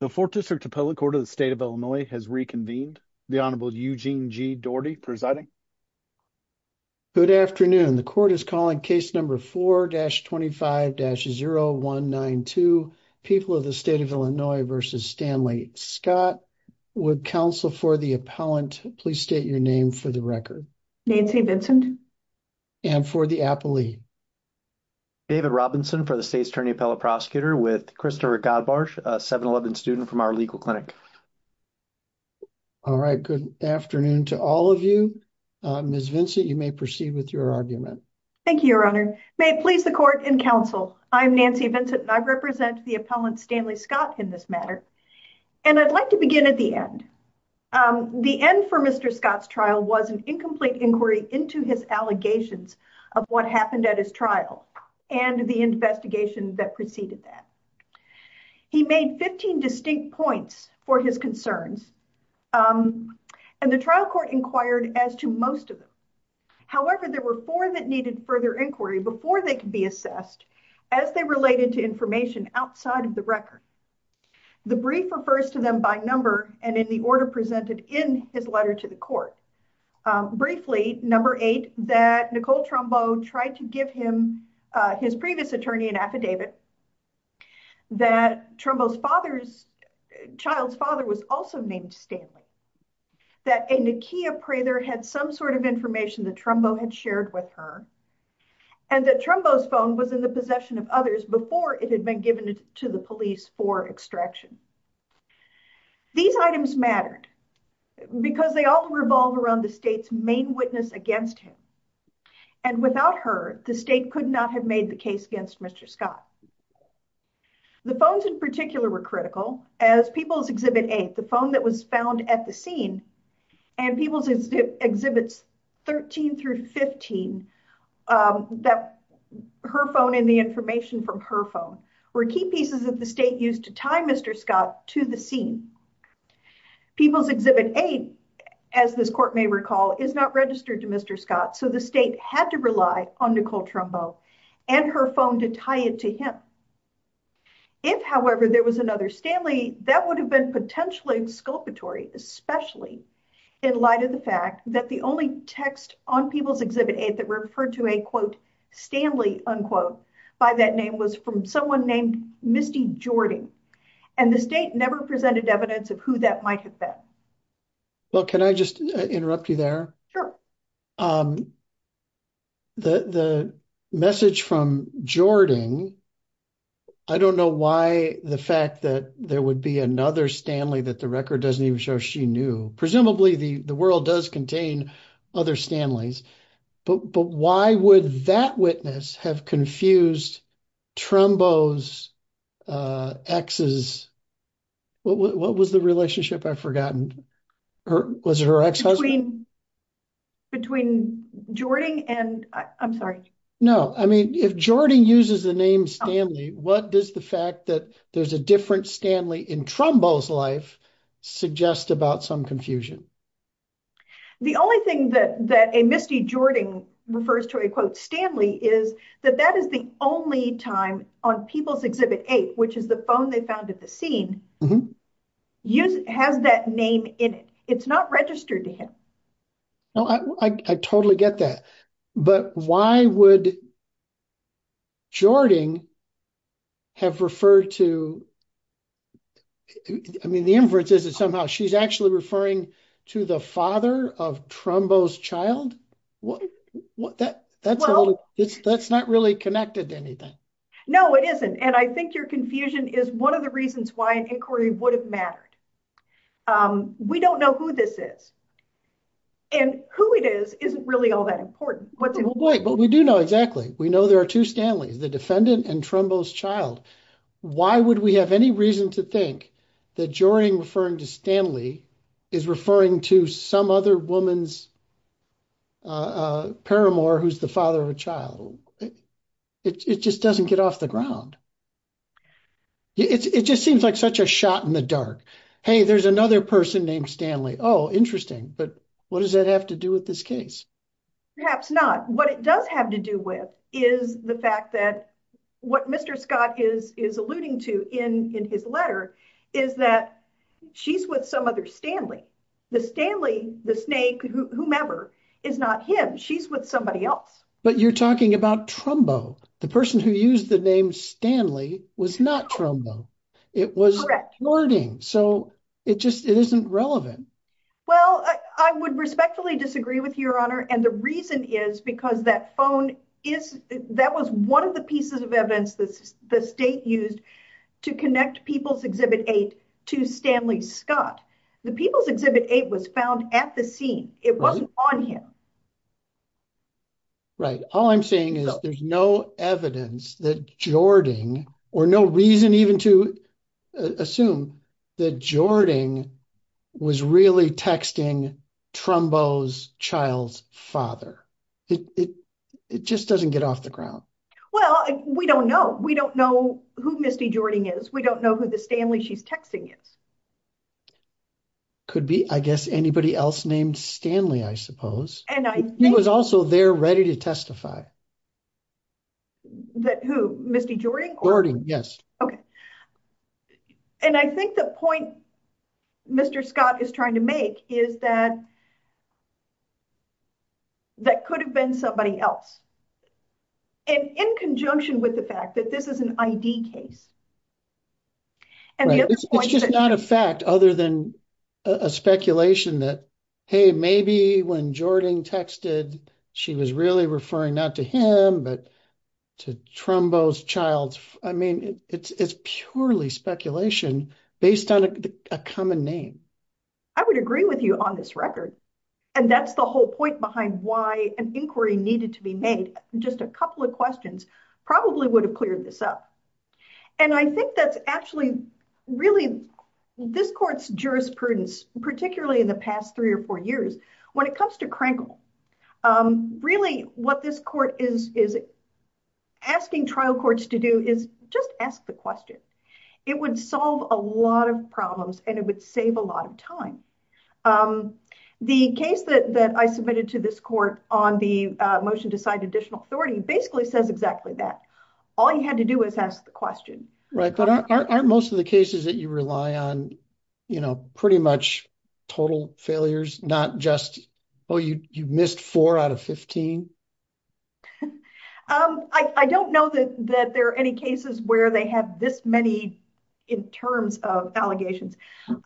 The Fourth District Appellate Court of the State of Illinois has reconvened. The Honorable Eugene G. Doherty presiding. Good afternoon. The court is calling case number 4-25-0192, People of the State of Illinois v. Stanley Scott. Would counsel for the appellant please state your name for the record? Nancy Vincent. And for the appellee? David Robinson for the State's Attorney Appellate Prosecutor with Krista Godbars, a 7-11 student from our legal clinic. All right, good afternoon to all of you. Ms. Vincent, you may proceed with your argument. Thank you, Your Honor. May it please the court and counsel, I'm Nancy Vincent, and I represent the appellant Stanley Scott in this matter. And I'd like to begin at the end. The end for Mr. Scott's trial was an incomplete inquiry into his allegations of what happened at his trial and the investigation that preceded that. He made 15 distinct points for his concerns and the trial court inquired as to most of them. However, there were four that needed further inquiry before they could be assessed as they related to information outside of the record. The brief refers to them by number and in the order presented in his letter to the court. Briefly, number eight, that Nicole Trumbo tried to give him his previous attorney an affidavit, that Trumbo's father's child's father was also named Stanley, that a Nakia Prather had some sort of information that Trumbo had shared with her, and that Trumbo's phone was in the possession of others before it had been given to the police for extraction. These items mattered, because they all revolve around the state's main witness against him. And without her, the state could not have made the case against Mr. Scott. The phones in particular were critical, as People's Exhibit 8, the phone that was found at the scene, and People's Exhibits 13 through 15, her phone and the information from her phone, were key pieces of the state used to tie Mr. Scott to the scene. People's Exhibit 8, as this court may recall, is not registered to Mr. Scott, so the state had to rely on Nicole Trumbo and her phone to tie it to him. If, however, there was another Stanley, that would have been potentially exculpatory, especially in light of the fact that the only text on People's Exhibit 8 referred to a, quote, Stanley, unquote, by that name, was from someone named Misty Jordan, and the state never presented evidence of who that might have been. Well, can I just interrupt you there? The message from Jordan, I don't know why the fact that there would be another Stanley that the record doesn't even show she knew. Presumably, the world does contain other Stanleys, but would that witness have confused Trumbo's ex's, what was the relationship, I've forgotten, was it her ex-husband? Between Jordan and, I'm sorry. No, I mean, if Jordan uses the name Stanley, what does the fact that there's a different Stanley in Trumbo's life suggest about some confusion? The only thing that a Misty Jordan refers to a, quote, Stanley, is that that is the only time on People's Exhibit 8, which is the phone they found at the scene, has that name in it. It's not registered to him. No, I totally get that, but why would Jordan have referred to, I mean, the inference is that somehow she's actually referring to the father of Trumbo's child. That's not really connected to anything. No, it isn't, and I think your confusion is one of the reasons why an inquiry would have mattered. We don't know who this is, and who it is isn't really all that important. But we do know exactly, we know there are two Stanleys, the defendant and Trumbo's child. Why would we have any reason to think that Jordan referring to Stanley is referring to some other woman's paramour who's the father of a child? It just doesn't get off the ground. It just seems like such a shot in the dark. Hey, there's another person named Stanley. Oh, interesting, but what does that have to do with this case? Perhaps not. What it does have to do with is the fact that what Mr. Scott is alluding to in his letter is that she's with some other Stanley. The Stanley, the snake, whomever, is not him. She's with somebody else. But you're talking about Trumbo. The person who used the name Stanley was not Trumbo. It was wording, so it just isn't relevant. Well, I would respectfully disagree with your honor, and the reason is because that phone is, that was one of the pieces of evidence that the state used to connect People's Exhibit 8 to Stanley Scott. The People's Exhibit 8 was found at the scene. It wasn't on him. Right, all I'm saying is there's no evidence that Jordan, or no father. It just doesn't get off the ground. Well, we don't know. We don't know who Misty Jordan is. We don't know who the Stanley she's texting is. Could be, I guess, anybody else named Stanley, I suppose. And he was also there ready to testify. Who, Misty Jordan? Jordan, yes. Okay, and I think the point Mr. Scott is trying to make is that that could have been somebody else, and in conjunction with the fact that this is an ID case. And it's just not a fact other than a speculation that, hey, maybe when Jordan texted, she was really referring not to him, but to Trumbo's child. I mean, it's purely speculation based on a common name. I would agree with you on this record, and that's the whole point behind why an inquiry needed to be made. Just a couple of questions probably would have cleared this up. And I think that's actually really, this court's jurisprudence, particularly in the past three or four years, when it comes to Krenkel, really what this court is asking trial courts to do is just ask the question. It would solve a lot of problems, and it would save a lot of time. The case that I submitted to this court on the motion to sign additional authority basically says exactly that. All you had to do was ask the question. Right, but aren't most of the cases that rely on pretty much total failures, not just, oh, you missed four out of 15? I don't know that there are any cases where they have this many in terms of allegations.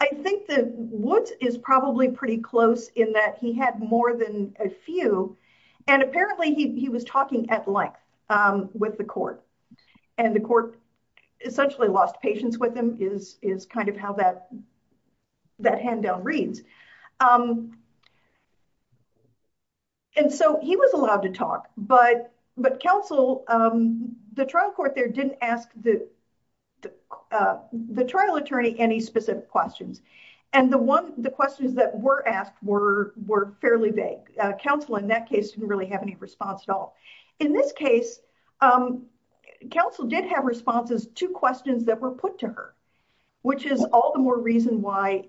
I think that Woods is probably pretty close in that he had more than a few, and apparently he was talking at with the court, and the court essentially lost patience with him, is kind of how that hand down reads. And so he was allowed to talk, but counsel, the trial court there didn't ask the trial attorney any specific questions, and the questions that were asked were fairly vague. Counsel in that case didn't really have any response at all. In this case, counsel did have responses to questions that were put to her, which is all the more reason why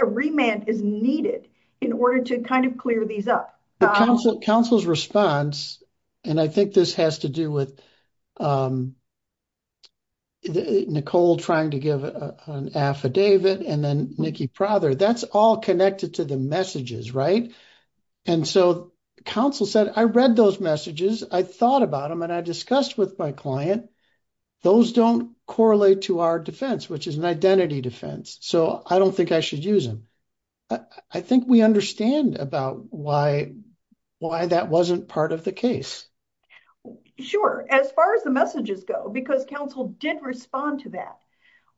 a remand is needed in order to kind of clear these up. Counsel's response, and I think this has to do with Nicole trying to give an affidavit, and then Nikki Prother, that's all connected to the messages, right? And so counsel said, I read those messages, I thought about them, and I discussed with my client, those don't correlate to our defense, which is an identity defense, so I don't think I should use them. I think we understand about why that wasn't part of the case. Sure, as far as the messages go, because counsel did respond to that.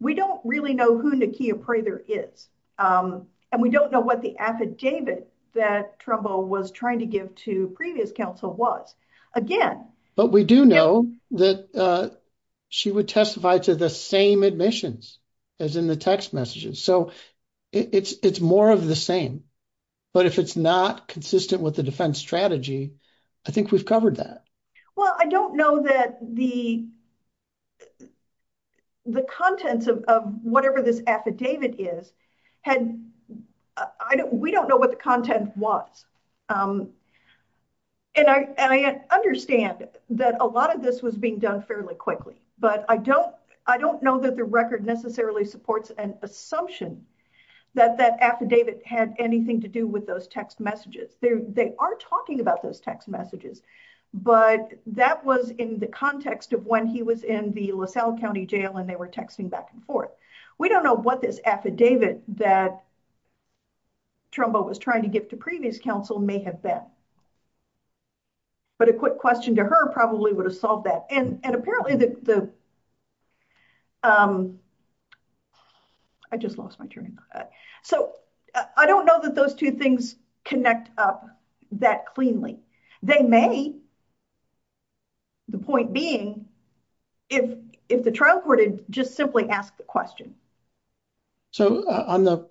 We don't really know who Nikki Prother is, and we don't know what the affidavit that Trumbo was trying to give to previous counsel was. Again- But we do know that she would testify to the same admissions as in the text messages. So it's more of the same, but if it's not consistent with the defense strategy, I think we've covered that. Well, I don't know that the contents of whatever this affidavit is, we don't know what the content was. And I understand that a lot of this was being done fairly quickly, but I don't know that the record necessarily supports an assumption that that affidavit had anything to do with those text messages, but that was in the context of when he was in the LaSalle County Jail and they were texting back and forth. We don't know what this affidavit that Trumbo was trying to give to previous counsel may have been, but a quick question to her probably would have solved that. And apparently the- I just lost my train of thought. So I don't know that those two things connect up that cleanly. They may, the point being, if the trial court had just simply asked the question. So on the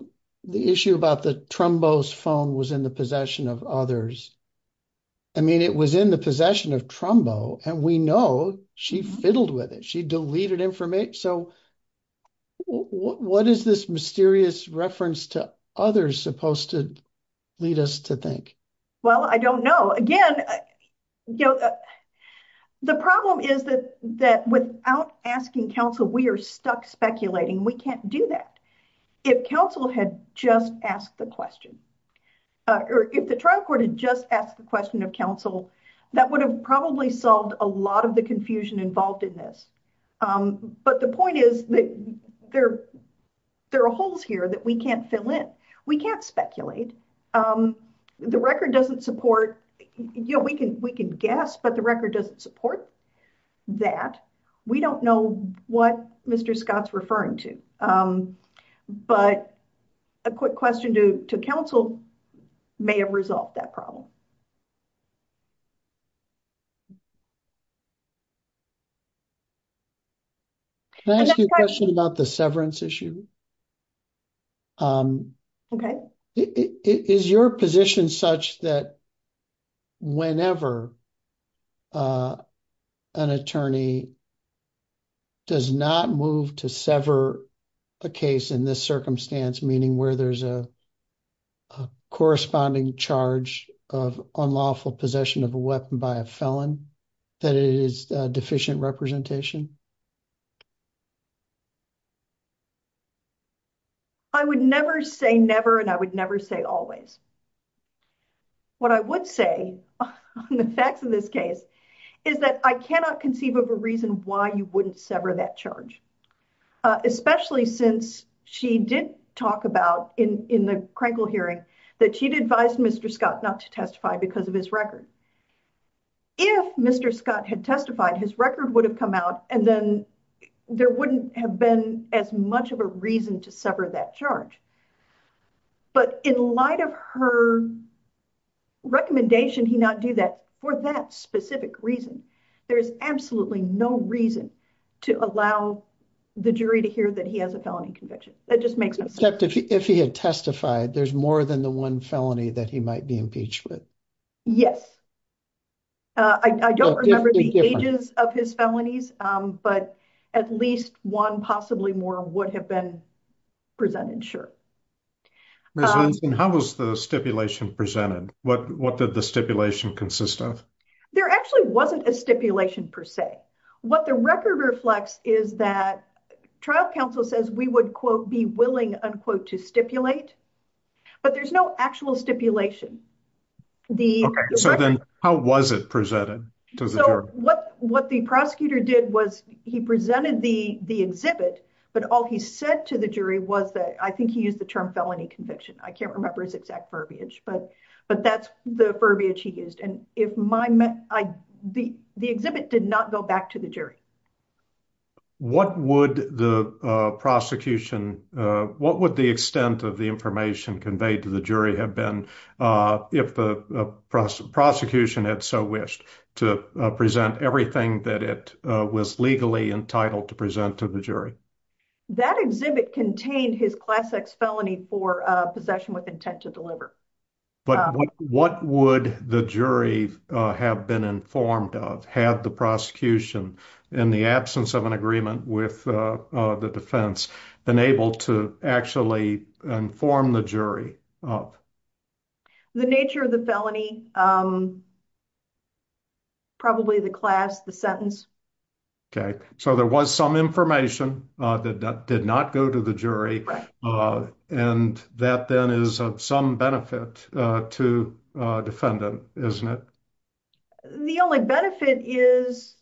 issue about the Trumbo's phone was in the possession of others. I mean, it was in the possession of Trumbo and we know she fiddled with it. She deleted information. So what is this mysterious reference to others supposed to lead us to think? Well, I don't know. Again, you know, the problem is that without asking counsel, we are stuck speculating. We can't do that. If counsel had just asked the question or if the trial court had just asked the question of counsel, that would have probably solved a lot of the There are holes here that we can't fill in. We can't speculate. The record doesn't support, you know, we can guess, but the record doesn't support that. We don't know what Mr. Scott's referring to. But a quick question to counsel may have resolved that problem. Can I ask you a question about the severance issue? Okay. Is your position such that whenever an attorney does not move to sever a case in this circumstance, meaning where there's a a corresponding charge of unlawful possession of a weapon by a felon, that it is deficient representation? I would never say never and I would never say always. What I would say on the facts of this case is that I cannot conceive of a reason why you wouldn't sever that charge, especially since she did talk about in the Krenkel hearing that she'd advised Mr. Scott not to testify because of his record. If Mr. Scott had testified, his record would have come out and then there wouldn't have been as much of a reason to sever that charge. But in light of her recommendation he not do that for that specific reason, there is absolutely no reason to allow the jury to hear that he has a felony conviction. That just makes no sense. If he had testified, there's more than the one felony that he might be impeached with? Yes. I don't remember the ages of his felonies, but at least one possibly more would have been presented, sure. How was the stipulation presented? What did the stipulation consist of? There actually wasn't a stipulation per se. What the record reflects is that trial counsel says we would be willing to stipulate, but there's no actual stipulation. How was it presented to the jury? What the prosecutor did was he presented the exhibit, but all he said to the jury was that I think he used the term felony conviction. I can't remember his exact verbiage, but that's the verbiage he used. The exhibit did not go back to the jury. What would the extent of the information conveyed to the jury have been if the prosecution had so wished to present everything that it was legally entitled to present to the That exhibit contained his class X felony for possession with intent to deliver. What would the jury have been informed of had the prosecution in the absence of an agreement with the defense been able to actually inform the jury? The nature of the felony, probably the class, the sentence. Okay, so there was some information that did not go to the jury and that then is of some benefit to a defendant, isn't it? The only benefit is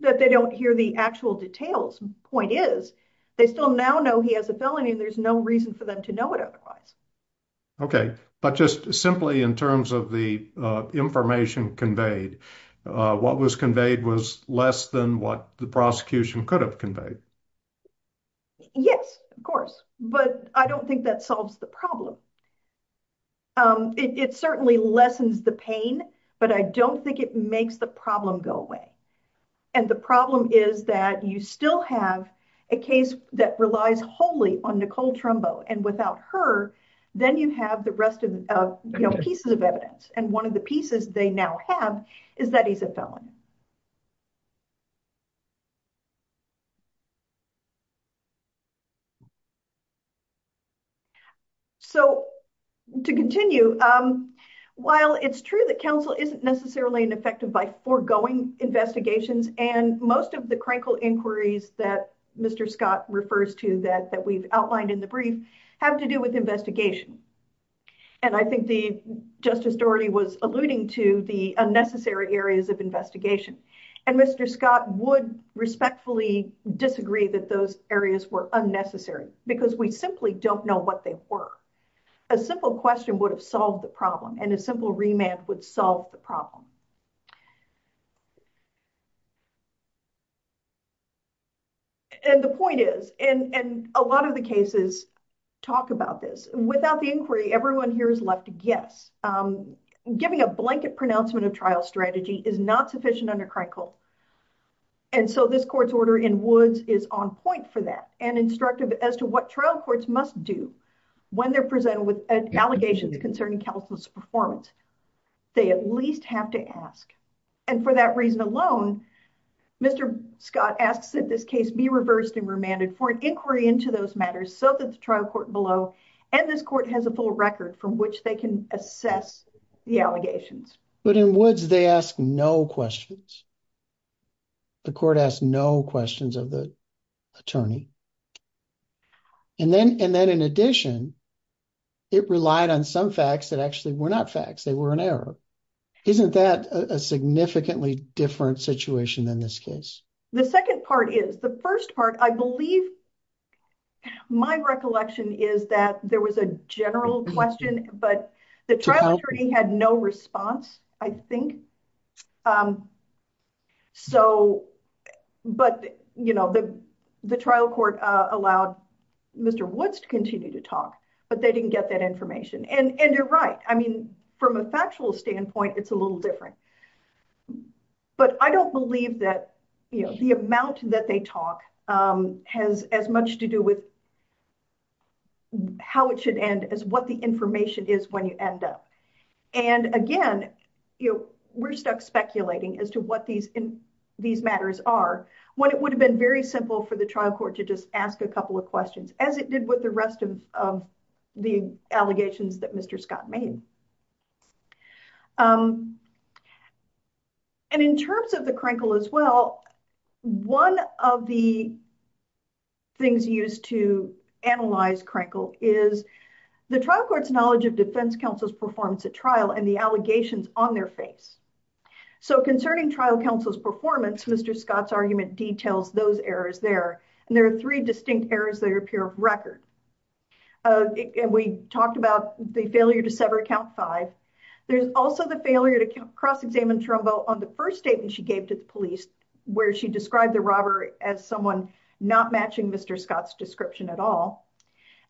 that they don't hear the actual details. Point is, they still now know he has a felony and there's no reason for them to know it otherwise. Okay, but just simply in terms of the information conveyed, what was conveyed was less than what the prosecution could have conveyed. Yes, of course, but I don't think that solves the problem. It certainly lessens the pain, but I don't think it makes the problem go away. And the problem is that you still have a case that relies wholly on Nicole Trumbo and without her, then you have the rest of the pieces of evidence. And one of the pieces they now have is that he's a felon. So to continue, while it's true that counsel isn't necessarily ineffective by foregoing investigations and most of the crankle inquiries that Mr. Scott refers to that we've outlined in the brief have to do with investigation. And I think the Justice Doherty was alluding to the unnecessary areas of investigation. And Mr. Scott would respectfully disagree that those areas were unnecessary because we simply don't know what they were. A simple question would have solved the problem and a simple remand would solve the problem. And the point is, in a lot of the cases, talk about this. Without the inquiry, everyone here is left to guess. Giving a blanket pronouncement of trial strategy is not sufficient under crankle. And so this court's order in Woods is on point for that and instructive as to what trial courts must do when they're presented with allegations concerning counsel's performance. They at least have to ask. And for that reason alone, Mr. Scott asks that this case be reversed and remanded for inquiry into those matters so that the trial court below and this court has a full record from which they can assess the allegations. But in Woods, they ask no questions. The court asked no questions of the attorney. And then in addition, it relied on some facts that actually were not facts, they were an error. Isn't that a significantly different situation in this case? The second part is, the first part, I believe my recollection is that there was a general question, but the trial attorney had no response, I think. So, but, you know, the trial court allowed Mr. Woods to continue to talk, but they didn't get that information. And you're right. I mean, from a factual standpoint, it's a little different. But I don't believe that, you know, the amount that they talk has as much to do with how it should end as what the information is when you end up. And again, you know, we're stuck speculating as to what these, these matters are, when it would have been very simple for the trial court to just ask a couple of questions as it did with the rest of the allegations that Mr. Scott made. And in terms of the Krenkel as well, one of the things used to analyze Krenkel is the trial court's knowledge of defense counsel's performance at trial and the allegations on their face. So concerning trial counsel's performance, Mr. Scott's argument details those errors there. And there are three errors that appear of record. And we talked about the failure to sever count five. There's also the failure to cross-examine Trumbo on the first statement she gave to the police, where she described the robber as someone not matching Mr. Scott's description at all.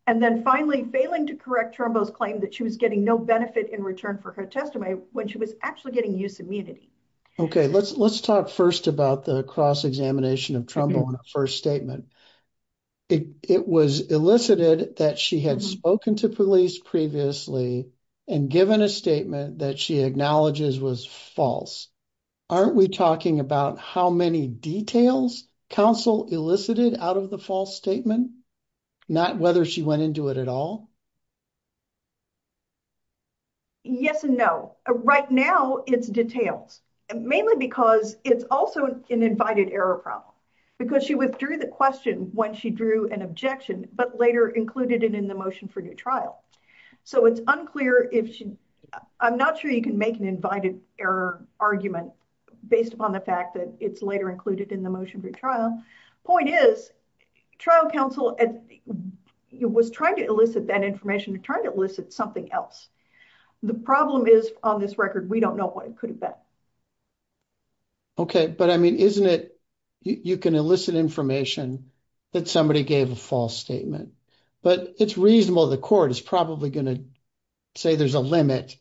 And then finally failing to correct Trumbo's claim that she was getting no benefit in return for her testimony when she was actually getting use immunity. Okay. Let's, let's talk first about the cross-examination of Trumbo on her first statement. It was elicited that she had spoken to police previously and given a statement that she acknowledges was false. Aren't we talking about how many details counsel elicited out of the false statement? Not whether she went into it at all. Yes and no. Right now it's details mainly because it's also an invited error problem because she withdrew the question when she drew an objection, but later included it in the motion for new trial. So it's unclear if she, I'm not sure you can make an invited error argument based upon the fact that it's later included in the motion for trial. Point is trial counsel was trying to elicit that information to try to elicit something else. The problem is on this record, we don't know what it could have been. Okay. But I mean, isn't it, you can elicit information that somebody gave a false statement, but it's reasonable. The court is probably going to say there's a limit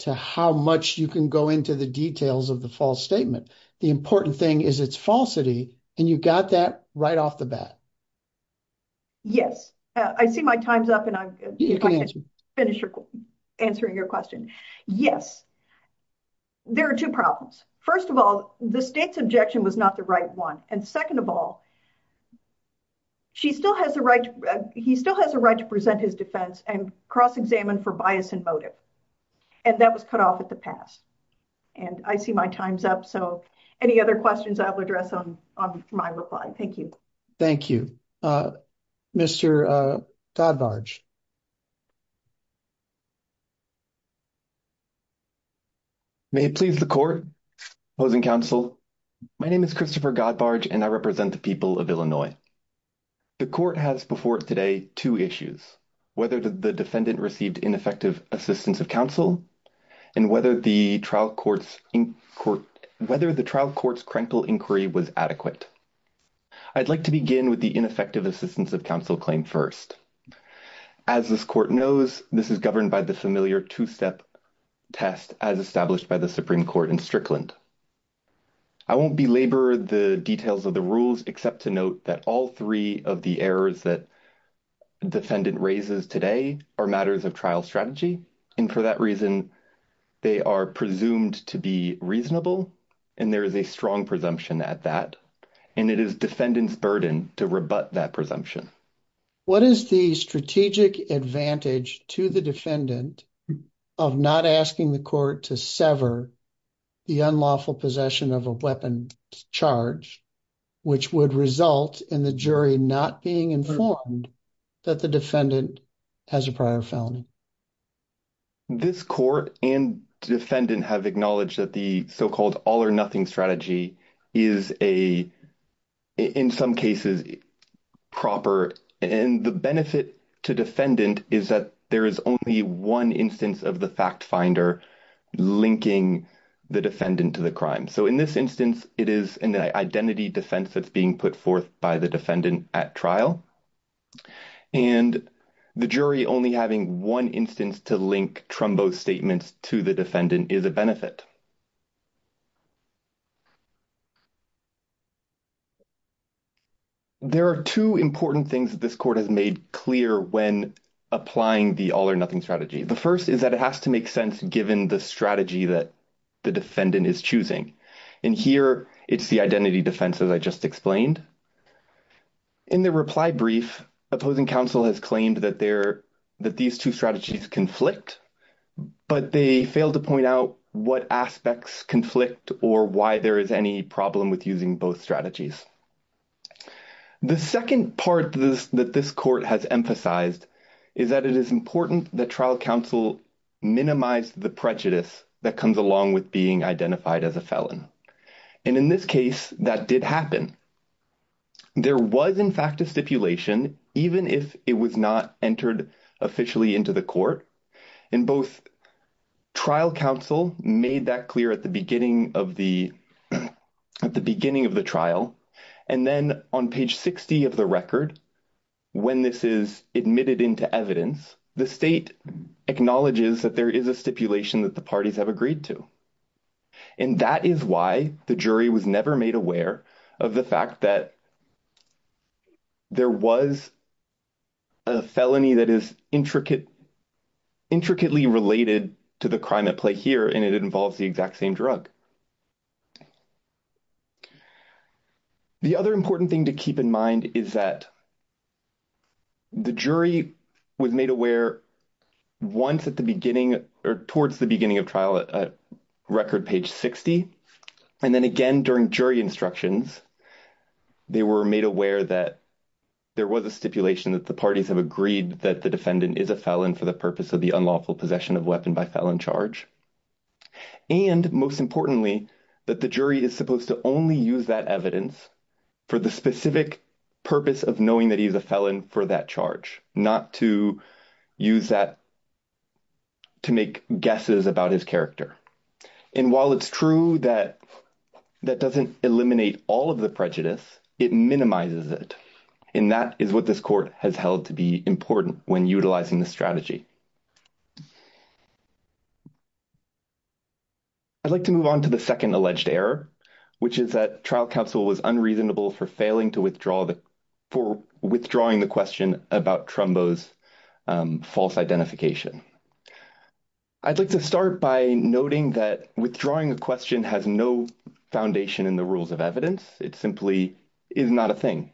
to how much you can go into the details of the false statement. The important thing is it's falsity and you got that right off the bat. Yes. I see my time's up and I'm going to finish answering your question. Yes. There are two problems. First of all, the state's objection was not the right one. And second of all, he still has a right to present his defense and cross-examine for bias and motive. And that was cut off at the past. And I see my time's up. So any other questions I have to address on my reply? Thank you. Thank you. Mr. Godbarge. May it please the court, opposing counsel. My name is Christopher Godbarge and I represent the people of Illinois. The court has before today, two issues, whether the defendant received ineffective assistance of counsel and whether the trial court's crankle inquiry was adequate. I'd like to begin with the ineffective assistance of counsel claim first. As this court knows, this is governed by the familiar two-step test as established by the Supreme Court in Strickland. I won't belabor the details of the rules, except to note that all three of the errors that defendant raises today are matters of trial strategy. And for that reason, they are presumed to be reasonable. And there is a strong presumption at that. And it is defendant's burden to rebut that presumption. What is the strategic advantage to the defendant of not asking the court to sever the unlawful possession of a weapon charge, which would result in the jury not being informed that the defendant has a prior felony? This court and defendant have acknowledged that the so-called all or nothing strategy is a, in some cases, proper. And the benefit to defendant is that there is only one instance of the fact linking the defendant to the crime. So in this instance, it is an identity defense that's being put forth by the defendant at trial. And the jury only having one instance to link trumbo statements to the defendant is a benefit. There are two important things that this court has made clear when applying the all or nothing strategy. The first is that it has to make sense given the strategy that the defendant is choosing. And here, it's the identity defense, as I just explained. In the reply brief, opposing counsel has claimed that these two strategies conflict, but they failed to point out what aspects conflict or why there is any problem with using both strategies. The second part that this court has emphasized is that it is important that trial counsel minimize the prejudice that comes along with being identified as a felon. And in this case, that did happen. There was, in fact, a stipulation, even if it was not entered officially into the court. And both trial counsel made that clear at the beginning of the at the beginning of the trial. And then on page 60 of the record, when this is admitted into evidence, the state acknowledges that there is a stipulation that the parties have agreed to. And that is why the jury was never made aware of the fact that there was a felony that is intricate, intricately related to the crime at play here, and it involves the exact same drug. The other important thing to keep in mind is that the jury was made aware once at the beginning or towards the beginning of trial at record page 60. And then again, during jury instructions, they were made aware that there was a stipulation that the parties have agreed that the defendant is a felon for the purpose of the unlawful possession of weapon by felon charge. And most importantly, that the jury is supposed to only use that evidence for the specific purpose of knowing that he is a felon for that charge, not to use that evidence to make guesses about his character. And while it's true that that doesn't eliminate all of the prejudice, it minimizes it. And that is what this court has held to be important when utilizing the strategy. I'd like to move on to the second alleged error, which is that trial counsel was unreasonable for failing to withdraw, for withdrawing the question about Trumbo's false identification. I'd like to start by noting that withdrawing a question has no foundation in the rules of evidence. It simply is not a thing.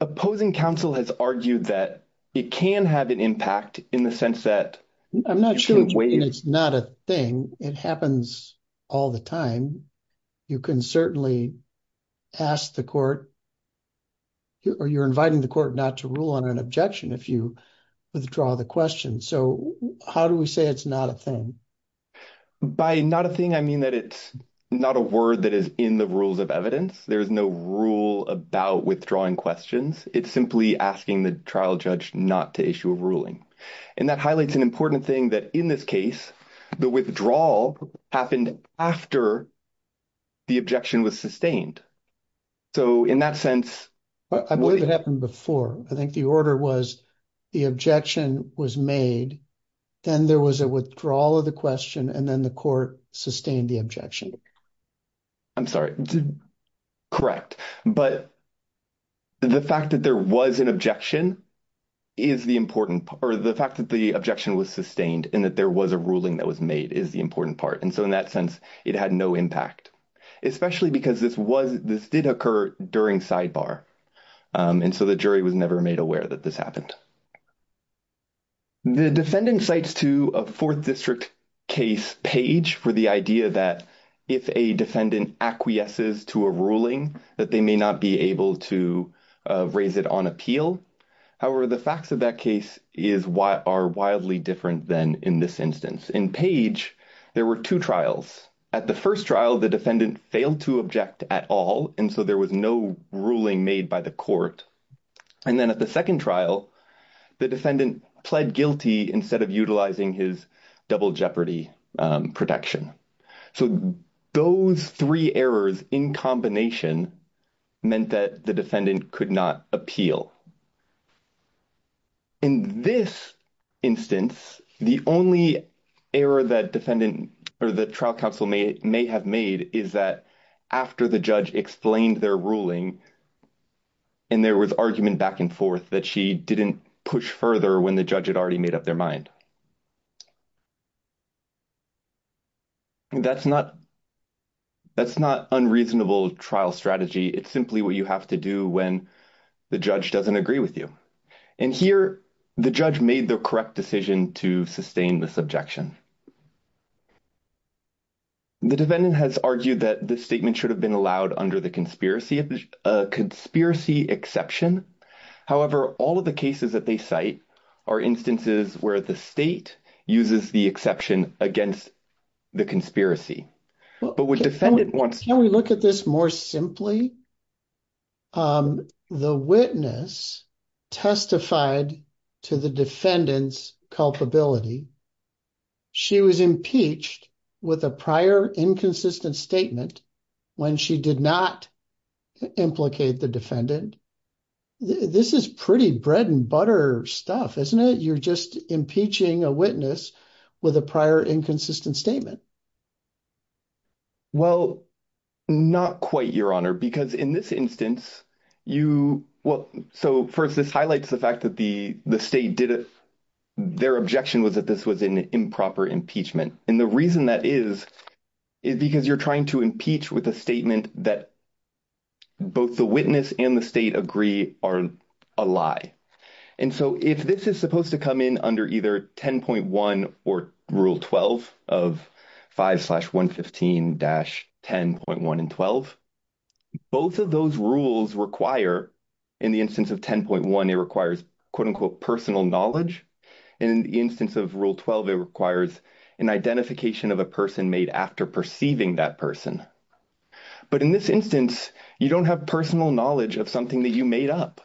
Opposing counsel has argued that it can have impact in the sense that... I'm not sure it's not a thing. It happens all the time. You can certainly ask the court or you're inviting the court not to rule on an objection if you withdraw the question. So how do we say it's not a thing? By not a thing, I mean that it's not a word that is in the rules of evidence. There is no rule about withdrawing questions. It's simply asking the trial judge not to issue a ruling. And that highlights an important thing that in this case, the withdrawal happened after the objection was sustained. So in that sense... I believe it happened before. I think the order was the objection was made, then there was a withdrawal of the question, and then the court sustained the objection. I'm sorry. Correct. But the fact that there was an objection is the important part. The fact that the objection was sustained and that there was a ruling that was made is the important part. And so in that sense, it had no impact, especially because this did occur during sidebar. And so the jury was never made aware that this happened. The defendant cites to a fourth district case page for the idea that if a defendant acquiesces to a ruling, that they may not be able to raise it on appeal. However, the facts of that case are wildly different than in this instance. In page, there were two trials. At the first trial, the defendant failed to object at all. And so there was no ruling made by the court. And then at the second trial, the defendant pled guilty instead of utilizing his double jeopardy protection. So those three errors in combination meant that the defendant could not appeal. In this instance, the only error that defendant or the trial counsel may have made is that after the judge explained their ruling, and there was argument back and forth that she didn't push further when the judge had already made up their mind. That's not unreasonable trial strategy. It's simply what you have to do when the judge doesn't agree with you. And here, the judge made the correct decision to sustain this objection. The defendant has argued that the statement should have been allowed under the a conspiracy exception. However, all of the cases that they cite are instances where the state uses the exception against the conspiracy. But what defendant wants... Can we look at this more simply? The witness testified to the defendant's culpability. She was impeached with a prior inconsistent statement when she did not implicate the defendant. This is pretty bread and butter stuff, isn't it? You're just impeaching a witness with a prior inconsistent statement. Well, not quite, Your Honor, because in this instance, you... Well, so first, this highlights the fact that the state, their objection was that this was an improper impeachment. And the reason that is, is because you're trying to impeach with a statement that both the witness and the state agree are a lie. And so if this is supposed to come in under either 10.1 or Rule 12 of 5 slash 115 dash 10.1 and 12, both of those rules require, in the instance of 10.1, it requires, quote, unquote, personal knowledge. In the instance of Rule 12, it requires an identification of a person made after perceiving that person. But in this instance, you don't have personal knowledge of something that you made up.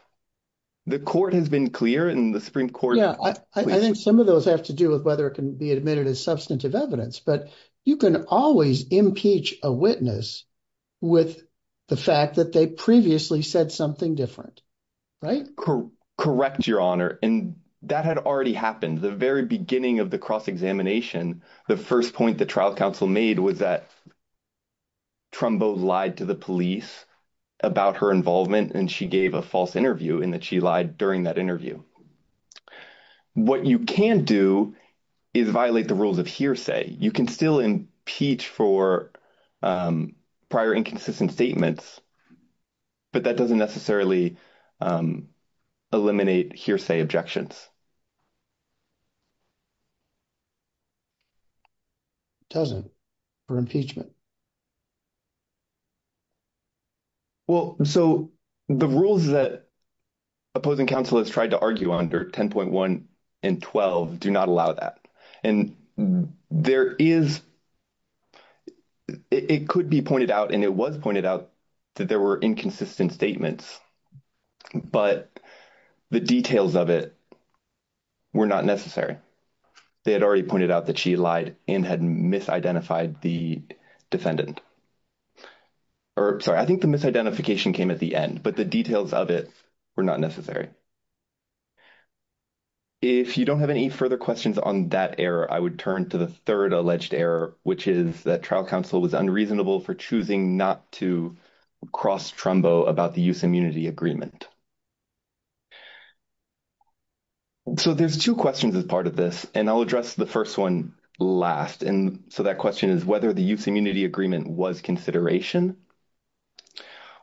The court has been clear and the Supreme Court... Yeah, I think some of those have to do with whether it can be admitted as substantive evidence. But you can always impeach a witness with the fact that they previously said something different, right? Correct, Your Honor. And that had already happened. The very beginning of the cross-examination, the first point the trial counsel made was that Trumbo lied to the police about her involvement, and she gave a false interview in that she lied during that interview. What you can do is violate the rules of hearsay. You can still impeach for prior inconsistent statements, but that doesn't necessarily eliminate hearsay objections. It doesn't for impeachment. Well, so the rules that opposing counsel has tried to argue under 10.1 and 12 do not allow that. And there is... It could be pointed out, and it was pointed out, that there were inconsistent statements, but the details of it were not necessary. They had already pointed out that she lied and had misidentified the defendant. Or, sorry, I think the misidentification came at the end, but the details of it were not necessary. If you don't have any further questions on that error, I would turn to the third alleged error, which is that trial counsel was unreasonable for choosing not to cross Trumbo about the use immunity agreement. So, there's two questions as part of this, and I'll address the first one last. And so, that question is whether the use immunity agreement was consideration.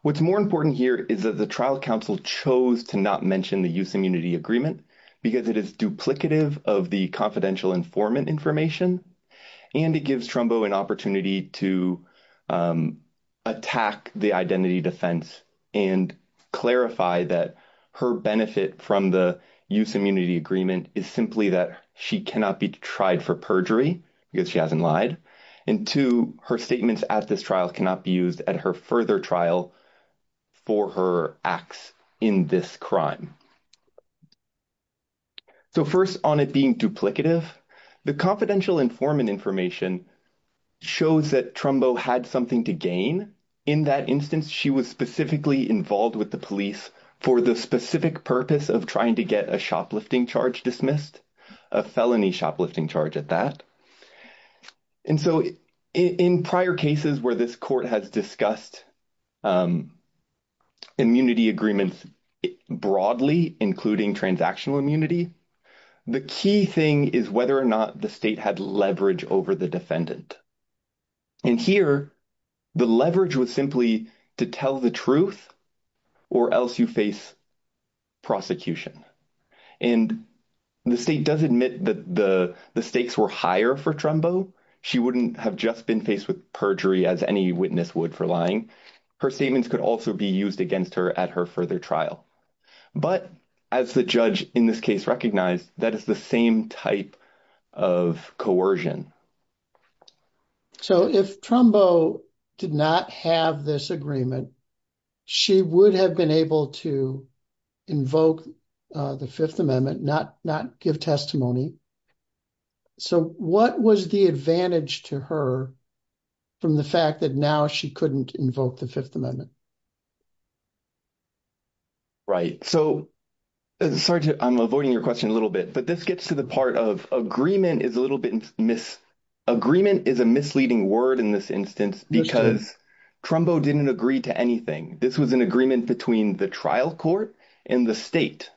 What's more important here is that the trial counsel chose to not mention the use immunity agreement because it is duplicative of the confidential informant information, and it gives Trumbo an opportunity to attack the identity defense and clarify that her benefit from the use immunity agreement is simply that she cannot be tried for perjury because she hasn't lied, and two, her statements at this trial cannot be used at her further trial for her acts in this crime. So, first, on it being duplicative, the confidential informant information shows that Trumbo had something to gain. In that instance, she was specifically involved with the police for the specific purpose of trying to get a shoplifting charge dismissed, a felony shoplifting charge at that. And so, in prior cases where this court has discussed immunity agreements broadly, including transactional immunity, the key thing is whether or not the state had leverage over the defendant. And here, the leverage was simply to tell the truth or else you face prosecution. And the state does admit that the stakes were higher for Trumbo. She wouldn't have just been faced with perjury as any witness would for lying. Her statements could also be used against her at her further trial. But as the judge in this case recognized, that is the same type of coercion. So, if Trumbo did not have this agreement, she would have been able to invoke the Fifth Amendment, not give testimony. So, what was the advantage to her from the fact that now she couldn't invoke the Fifth Amendment? Right. So, I'm avoiding your question a little bit, but this gets to the part of agreement is a misleading word in this instance because Trumbo didn't agree to anything. This was an agreement between the trial court and the state.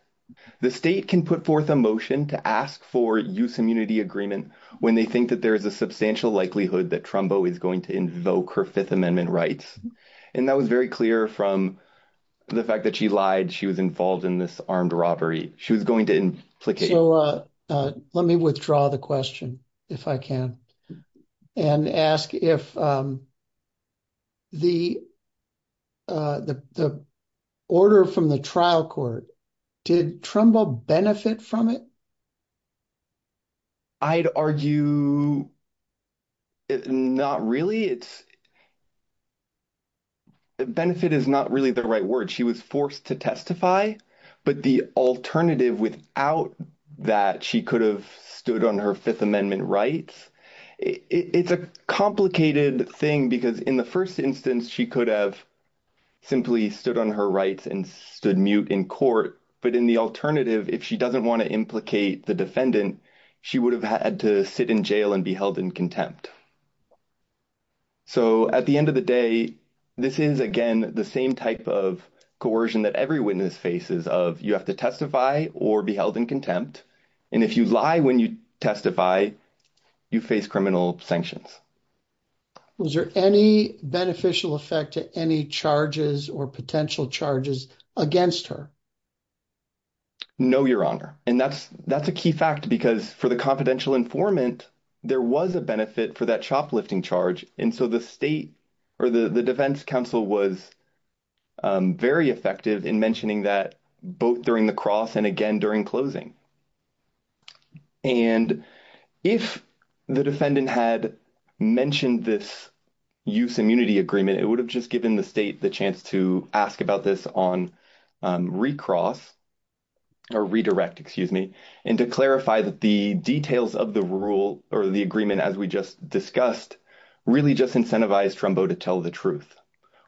The state can put forth a motion to ask for use immunity agreement when they think that there is a substantial likelihood that Trumbo is going to invoke her Fifth Amendment rights. And that was very clear from the fact that she lied, she was involved in this armed robbery. She was going to implicate. So, let me withdraw the question, if I can, and ask if the order from the trial court, did Trumbo benefit from it? I'd argue not really. Benefit is not really the right word. She was forced to testify. But the alternative without that, she could have stood on her Fifth Amendment rights. It's a complicated thing because in the first instance, she could have simply stood on her rights and stood mute in court. But in the alternative, if she doesn't want to implicate the defendant, she would have had to sit in jail and be held in contempt. So, at the end of the day, this is, again, the same type of coercion that every witness faces of you have to testify or be held in contempt. And if you lie when you testify, you face criminal sanctions. Was there any beneficial effect to any charges or potential charges against her? No, Your Honor. And that's a key fact because for the confidential informant, there was a benefit for that shoplifting charge. And so, the defense counsel was very effective in mentioning that both during the cross and, again, during closing. And if the defendant had mentioned this use immunity agreement, it would have just given the state the chance to ask about this on recross or redirect, excuse me, and to clarify that the details of the rule or the agreement, as we just discussed, really just incentivized Trumbo to tell the truth,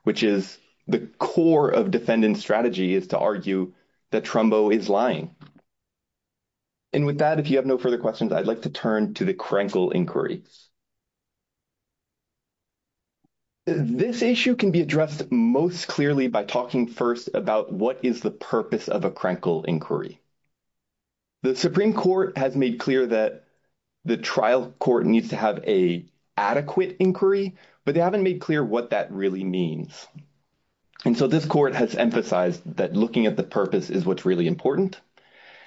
which is the core of defendant strategy is to argue that Trumbo is lying. And with that, if you have no further questions, I'd like to turn to the Krenkel inquiry. This issue can be addressed most clearly by talking first about what is the purpose of a Krenkel inquiry. The Supreme Court has made clear that the trial court needs to have a adequate inquiry, but they haven't made clear what that really means. And so, this court has emphasized that looking at the purpose is what's really important.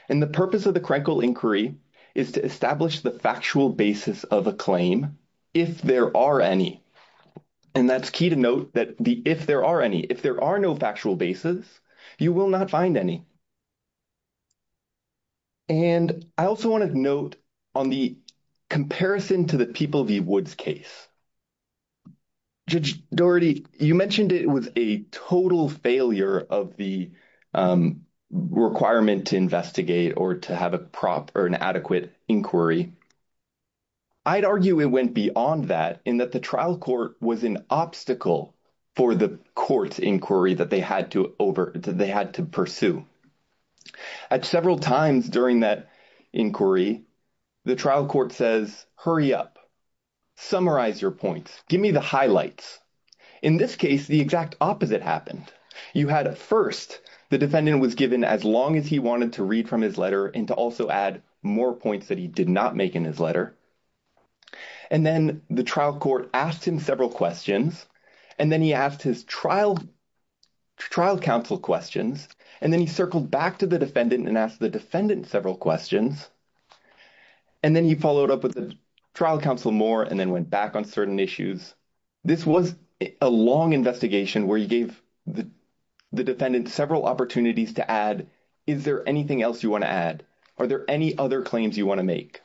And the purpose of the Krenkel inquiry is to establish the factual basis of a claim, if there are any. And that's key to note that if there are any, if there are no factual basis, you will not find any. And I also want to note on the comparison to the People v. Woods case, Judge Doherty, you mentioned it was a total failure of the requirement to investigate or to have a prop or an adequate inquiry. I'd argue it went beyond that, in that the trial court was an obstacle for the court inquiry that they had to pursue. At several times during that inquiry, the trial court says, hurry up, summarize your points, give me the highlights. In this case, the exact opposite happened. You had at first, the defendant was given as long as he wanted to read from his letter and to also add more points that he did not make in his letter. And then the trial court asked him several questions. And then he asked his trial counsel questions. And then he circled back to the defendant and asked the defendant several questions. And then he followed up with the trial counsel more and then went back on certain issues. This was a long investigation where you gave the defendant several opportunities to add, is there anything else you want to add? Are there any other claims you want to make?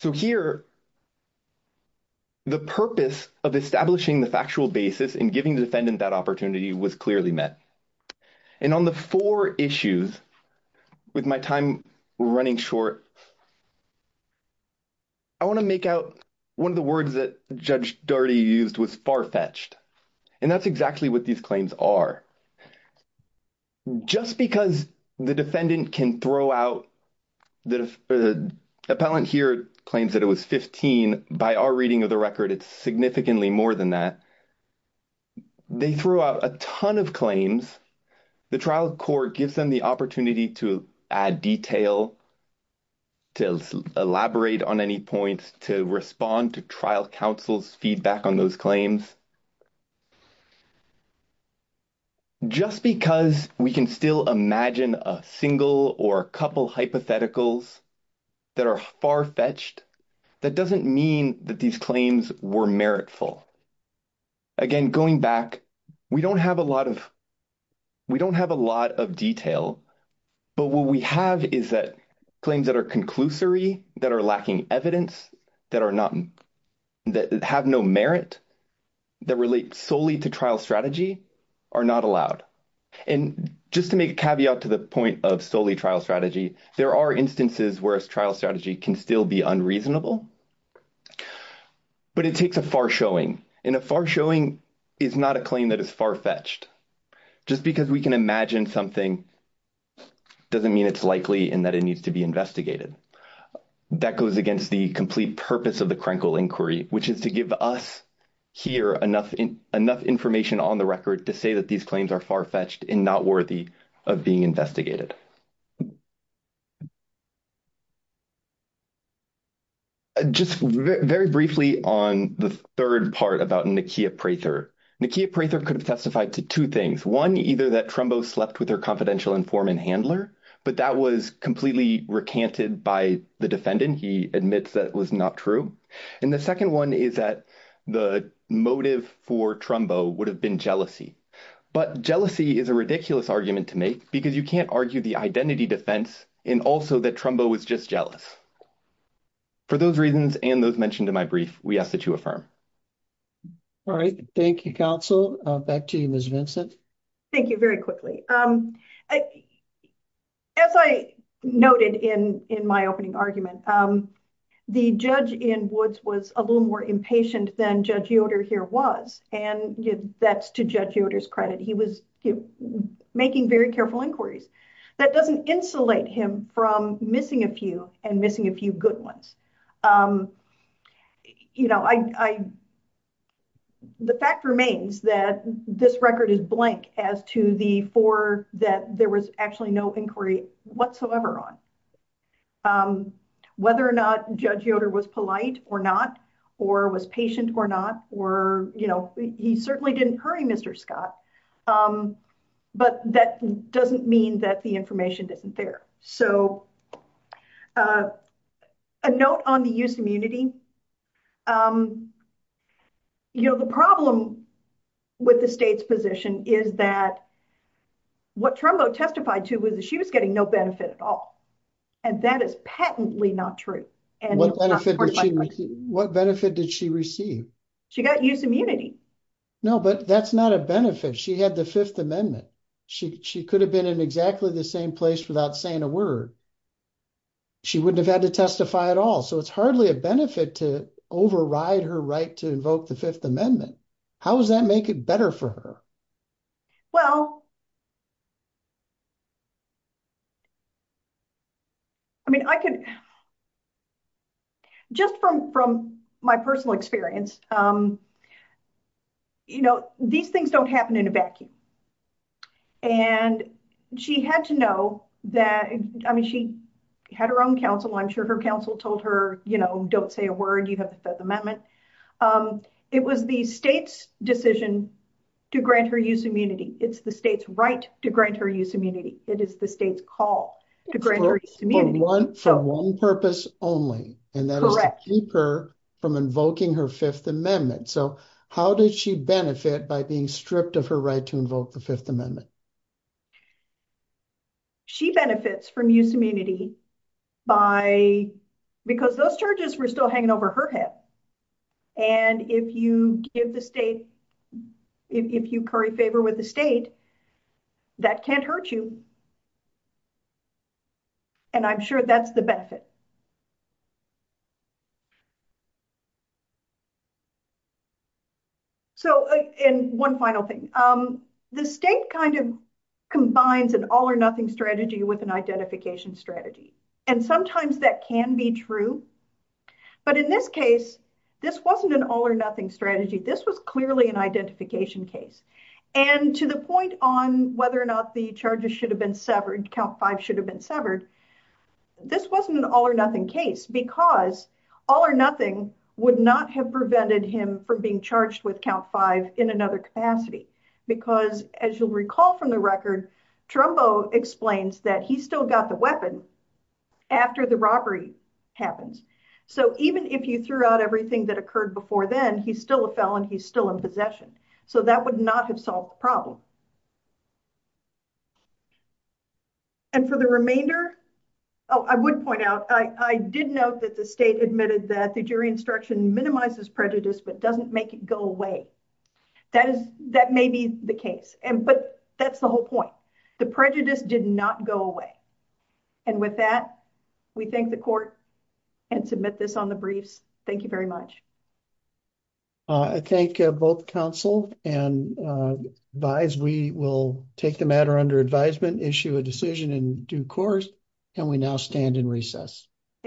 So here, the purpose of establishing the factual basis and giving the defendant that opportunity was clearly met. And on the four issues, with my time running short, I want to make out one of the words that Judge Dougherty used was far-fetched. And that's exactly what these claims are. Just because the defendant can throw out, the appellant here claims that it was 15, by our reading of the record, it's significantly more than that. They threw out a ton of claims. The trial court gives them the opportunity to add detail, to elaborate on any points, to respond to trial counsel's feedback on those claims. Just because we can still imagine a single or a couple hypotheticals that are far-fetched, that doesn't mean that these claims were meritful. Again, going back, we don't have a lot of detail, but what we have is that claims that are conclusory, that are lacking evidence, that have no merit, that relate solely to trial strategy, are not allowed. And just to make a caveat to the point of solely trial strategy, there are instances where a trial strategy can still be unreasonable, but it takes a far-showing. And a far-showing is not a claim that is far-fetched. Just because we can imagine something, doesn't mean it's likely and that it needs to be investigated. That goes against the complete purpose of the Krenkel inquiry, which is to give us here enough information on the record to say that these claims are far-fetched and not worthy of being investigated. Just very briefly on the third part about Nakia Prather. Nakia Prather could have testified to two things. One, either that Trumbo slept with her confidential informant handler, but that was completely recanted by the defendant. He admits that was not true. And the second one is that the motive for Trumbo would have been jealousy. But jealousy is a statement to make because you can't argue the identity defense and also that Trumbo was just jealous. For those reasons and those mentioned in my brief, we ask that you affirm. All right. Thank you, counsel. Back to you, Ms. Vincent. Thank you. Very quickly. As I noted in my opening argument, the judge in Woods was a little more inquisitive. That doesn't insulate him from missing a few and missing a few good ones. The fact remains that this record is blank as to the four that there was actually no inquiry whatsoever on. Whether or not Judge Yoder was polite or not or was patient or not, you know, he certainly didn't hurry Mr. Scott. But that doesn't mean that the information isn't there. So a note on the use of immunity. You know, the problem with the state's position is that what Trumbo testified to was that she was getting no benefit at all. And that is patently not true. What benefit did she receive? She got use immunity. No, but that's not a benefit. She had the Fifth Amendment. She could have been in exactly the same place without saying a word. She wouldn't have had to testify at all. So it's hardly a benefit to override her right to invoke the Fifth Amendment. How does that make it better for her? Well. I mean, I can. Just from from my personal experience. You know, these things don't happen in a vacuum. And she had to know that, I mean, she had her own counsel. I'm sure her counsel told her, you know, don't say a word. You have the Fifth Amendment. It was the state's decision to grant her use immunity. It's the state's right to grant her use immunity. It is the state's call to grant her use immunity. For one purpose only, and that is to keep her from invoking her Fifth Amendment. So how did she benefit by being stripped of her right to invoke the Fifth Amendment? She benefits from use immunity by because those charges were still hanging over her head. And if you give the state, if you curry favor with the state, that can't hurt you. And I'm sure that's the benefit. So and one final thing. The state kind of combines an all or nothing strategy with identification strategy. And sometimes that can be true. But in this case, this wasn't an all or nothing strategy. This was clearly an identification case. And to the point on whether or not the charges should have been severed, count five should have been severed. This wasn't an all or nothing case because all or nothing would not have prevented him from being charged with count five in another capacity. Because as you'll recall from the record, Trumbo explains that he still got the weapon after the robbery happens. So even if you threw out everything that occurred before then, he's still a felon. He's still in possession. So that would not have solved the problem. And for the remainder, oh, I would point out, I did note that the state admitted that the jury instruction minimizes prejudice, but doesn't make it go away. That may be the case. But that's the whole point. The prejudice did not go away. And with that, we thank the court and submit this on the briefs. Thank you very much. I thank both counsel and advise we will take the matter under advisement, issue a decision in due course, and we now stand in recess. Thank you.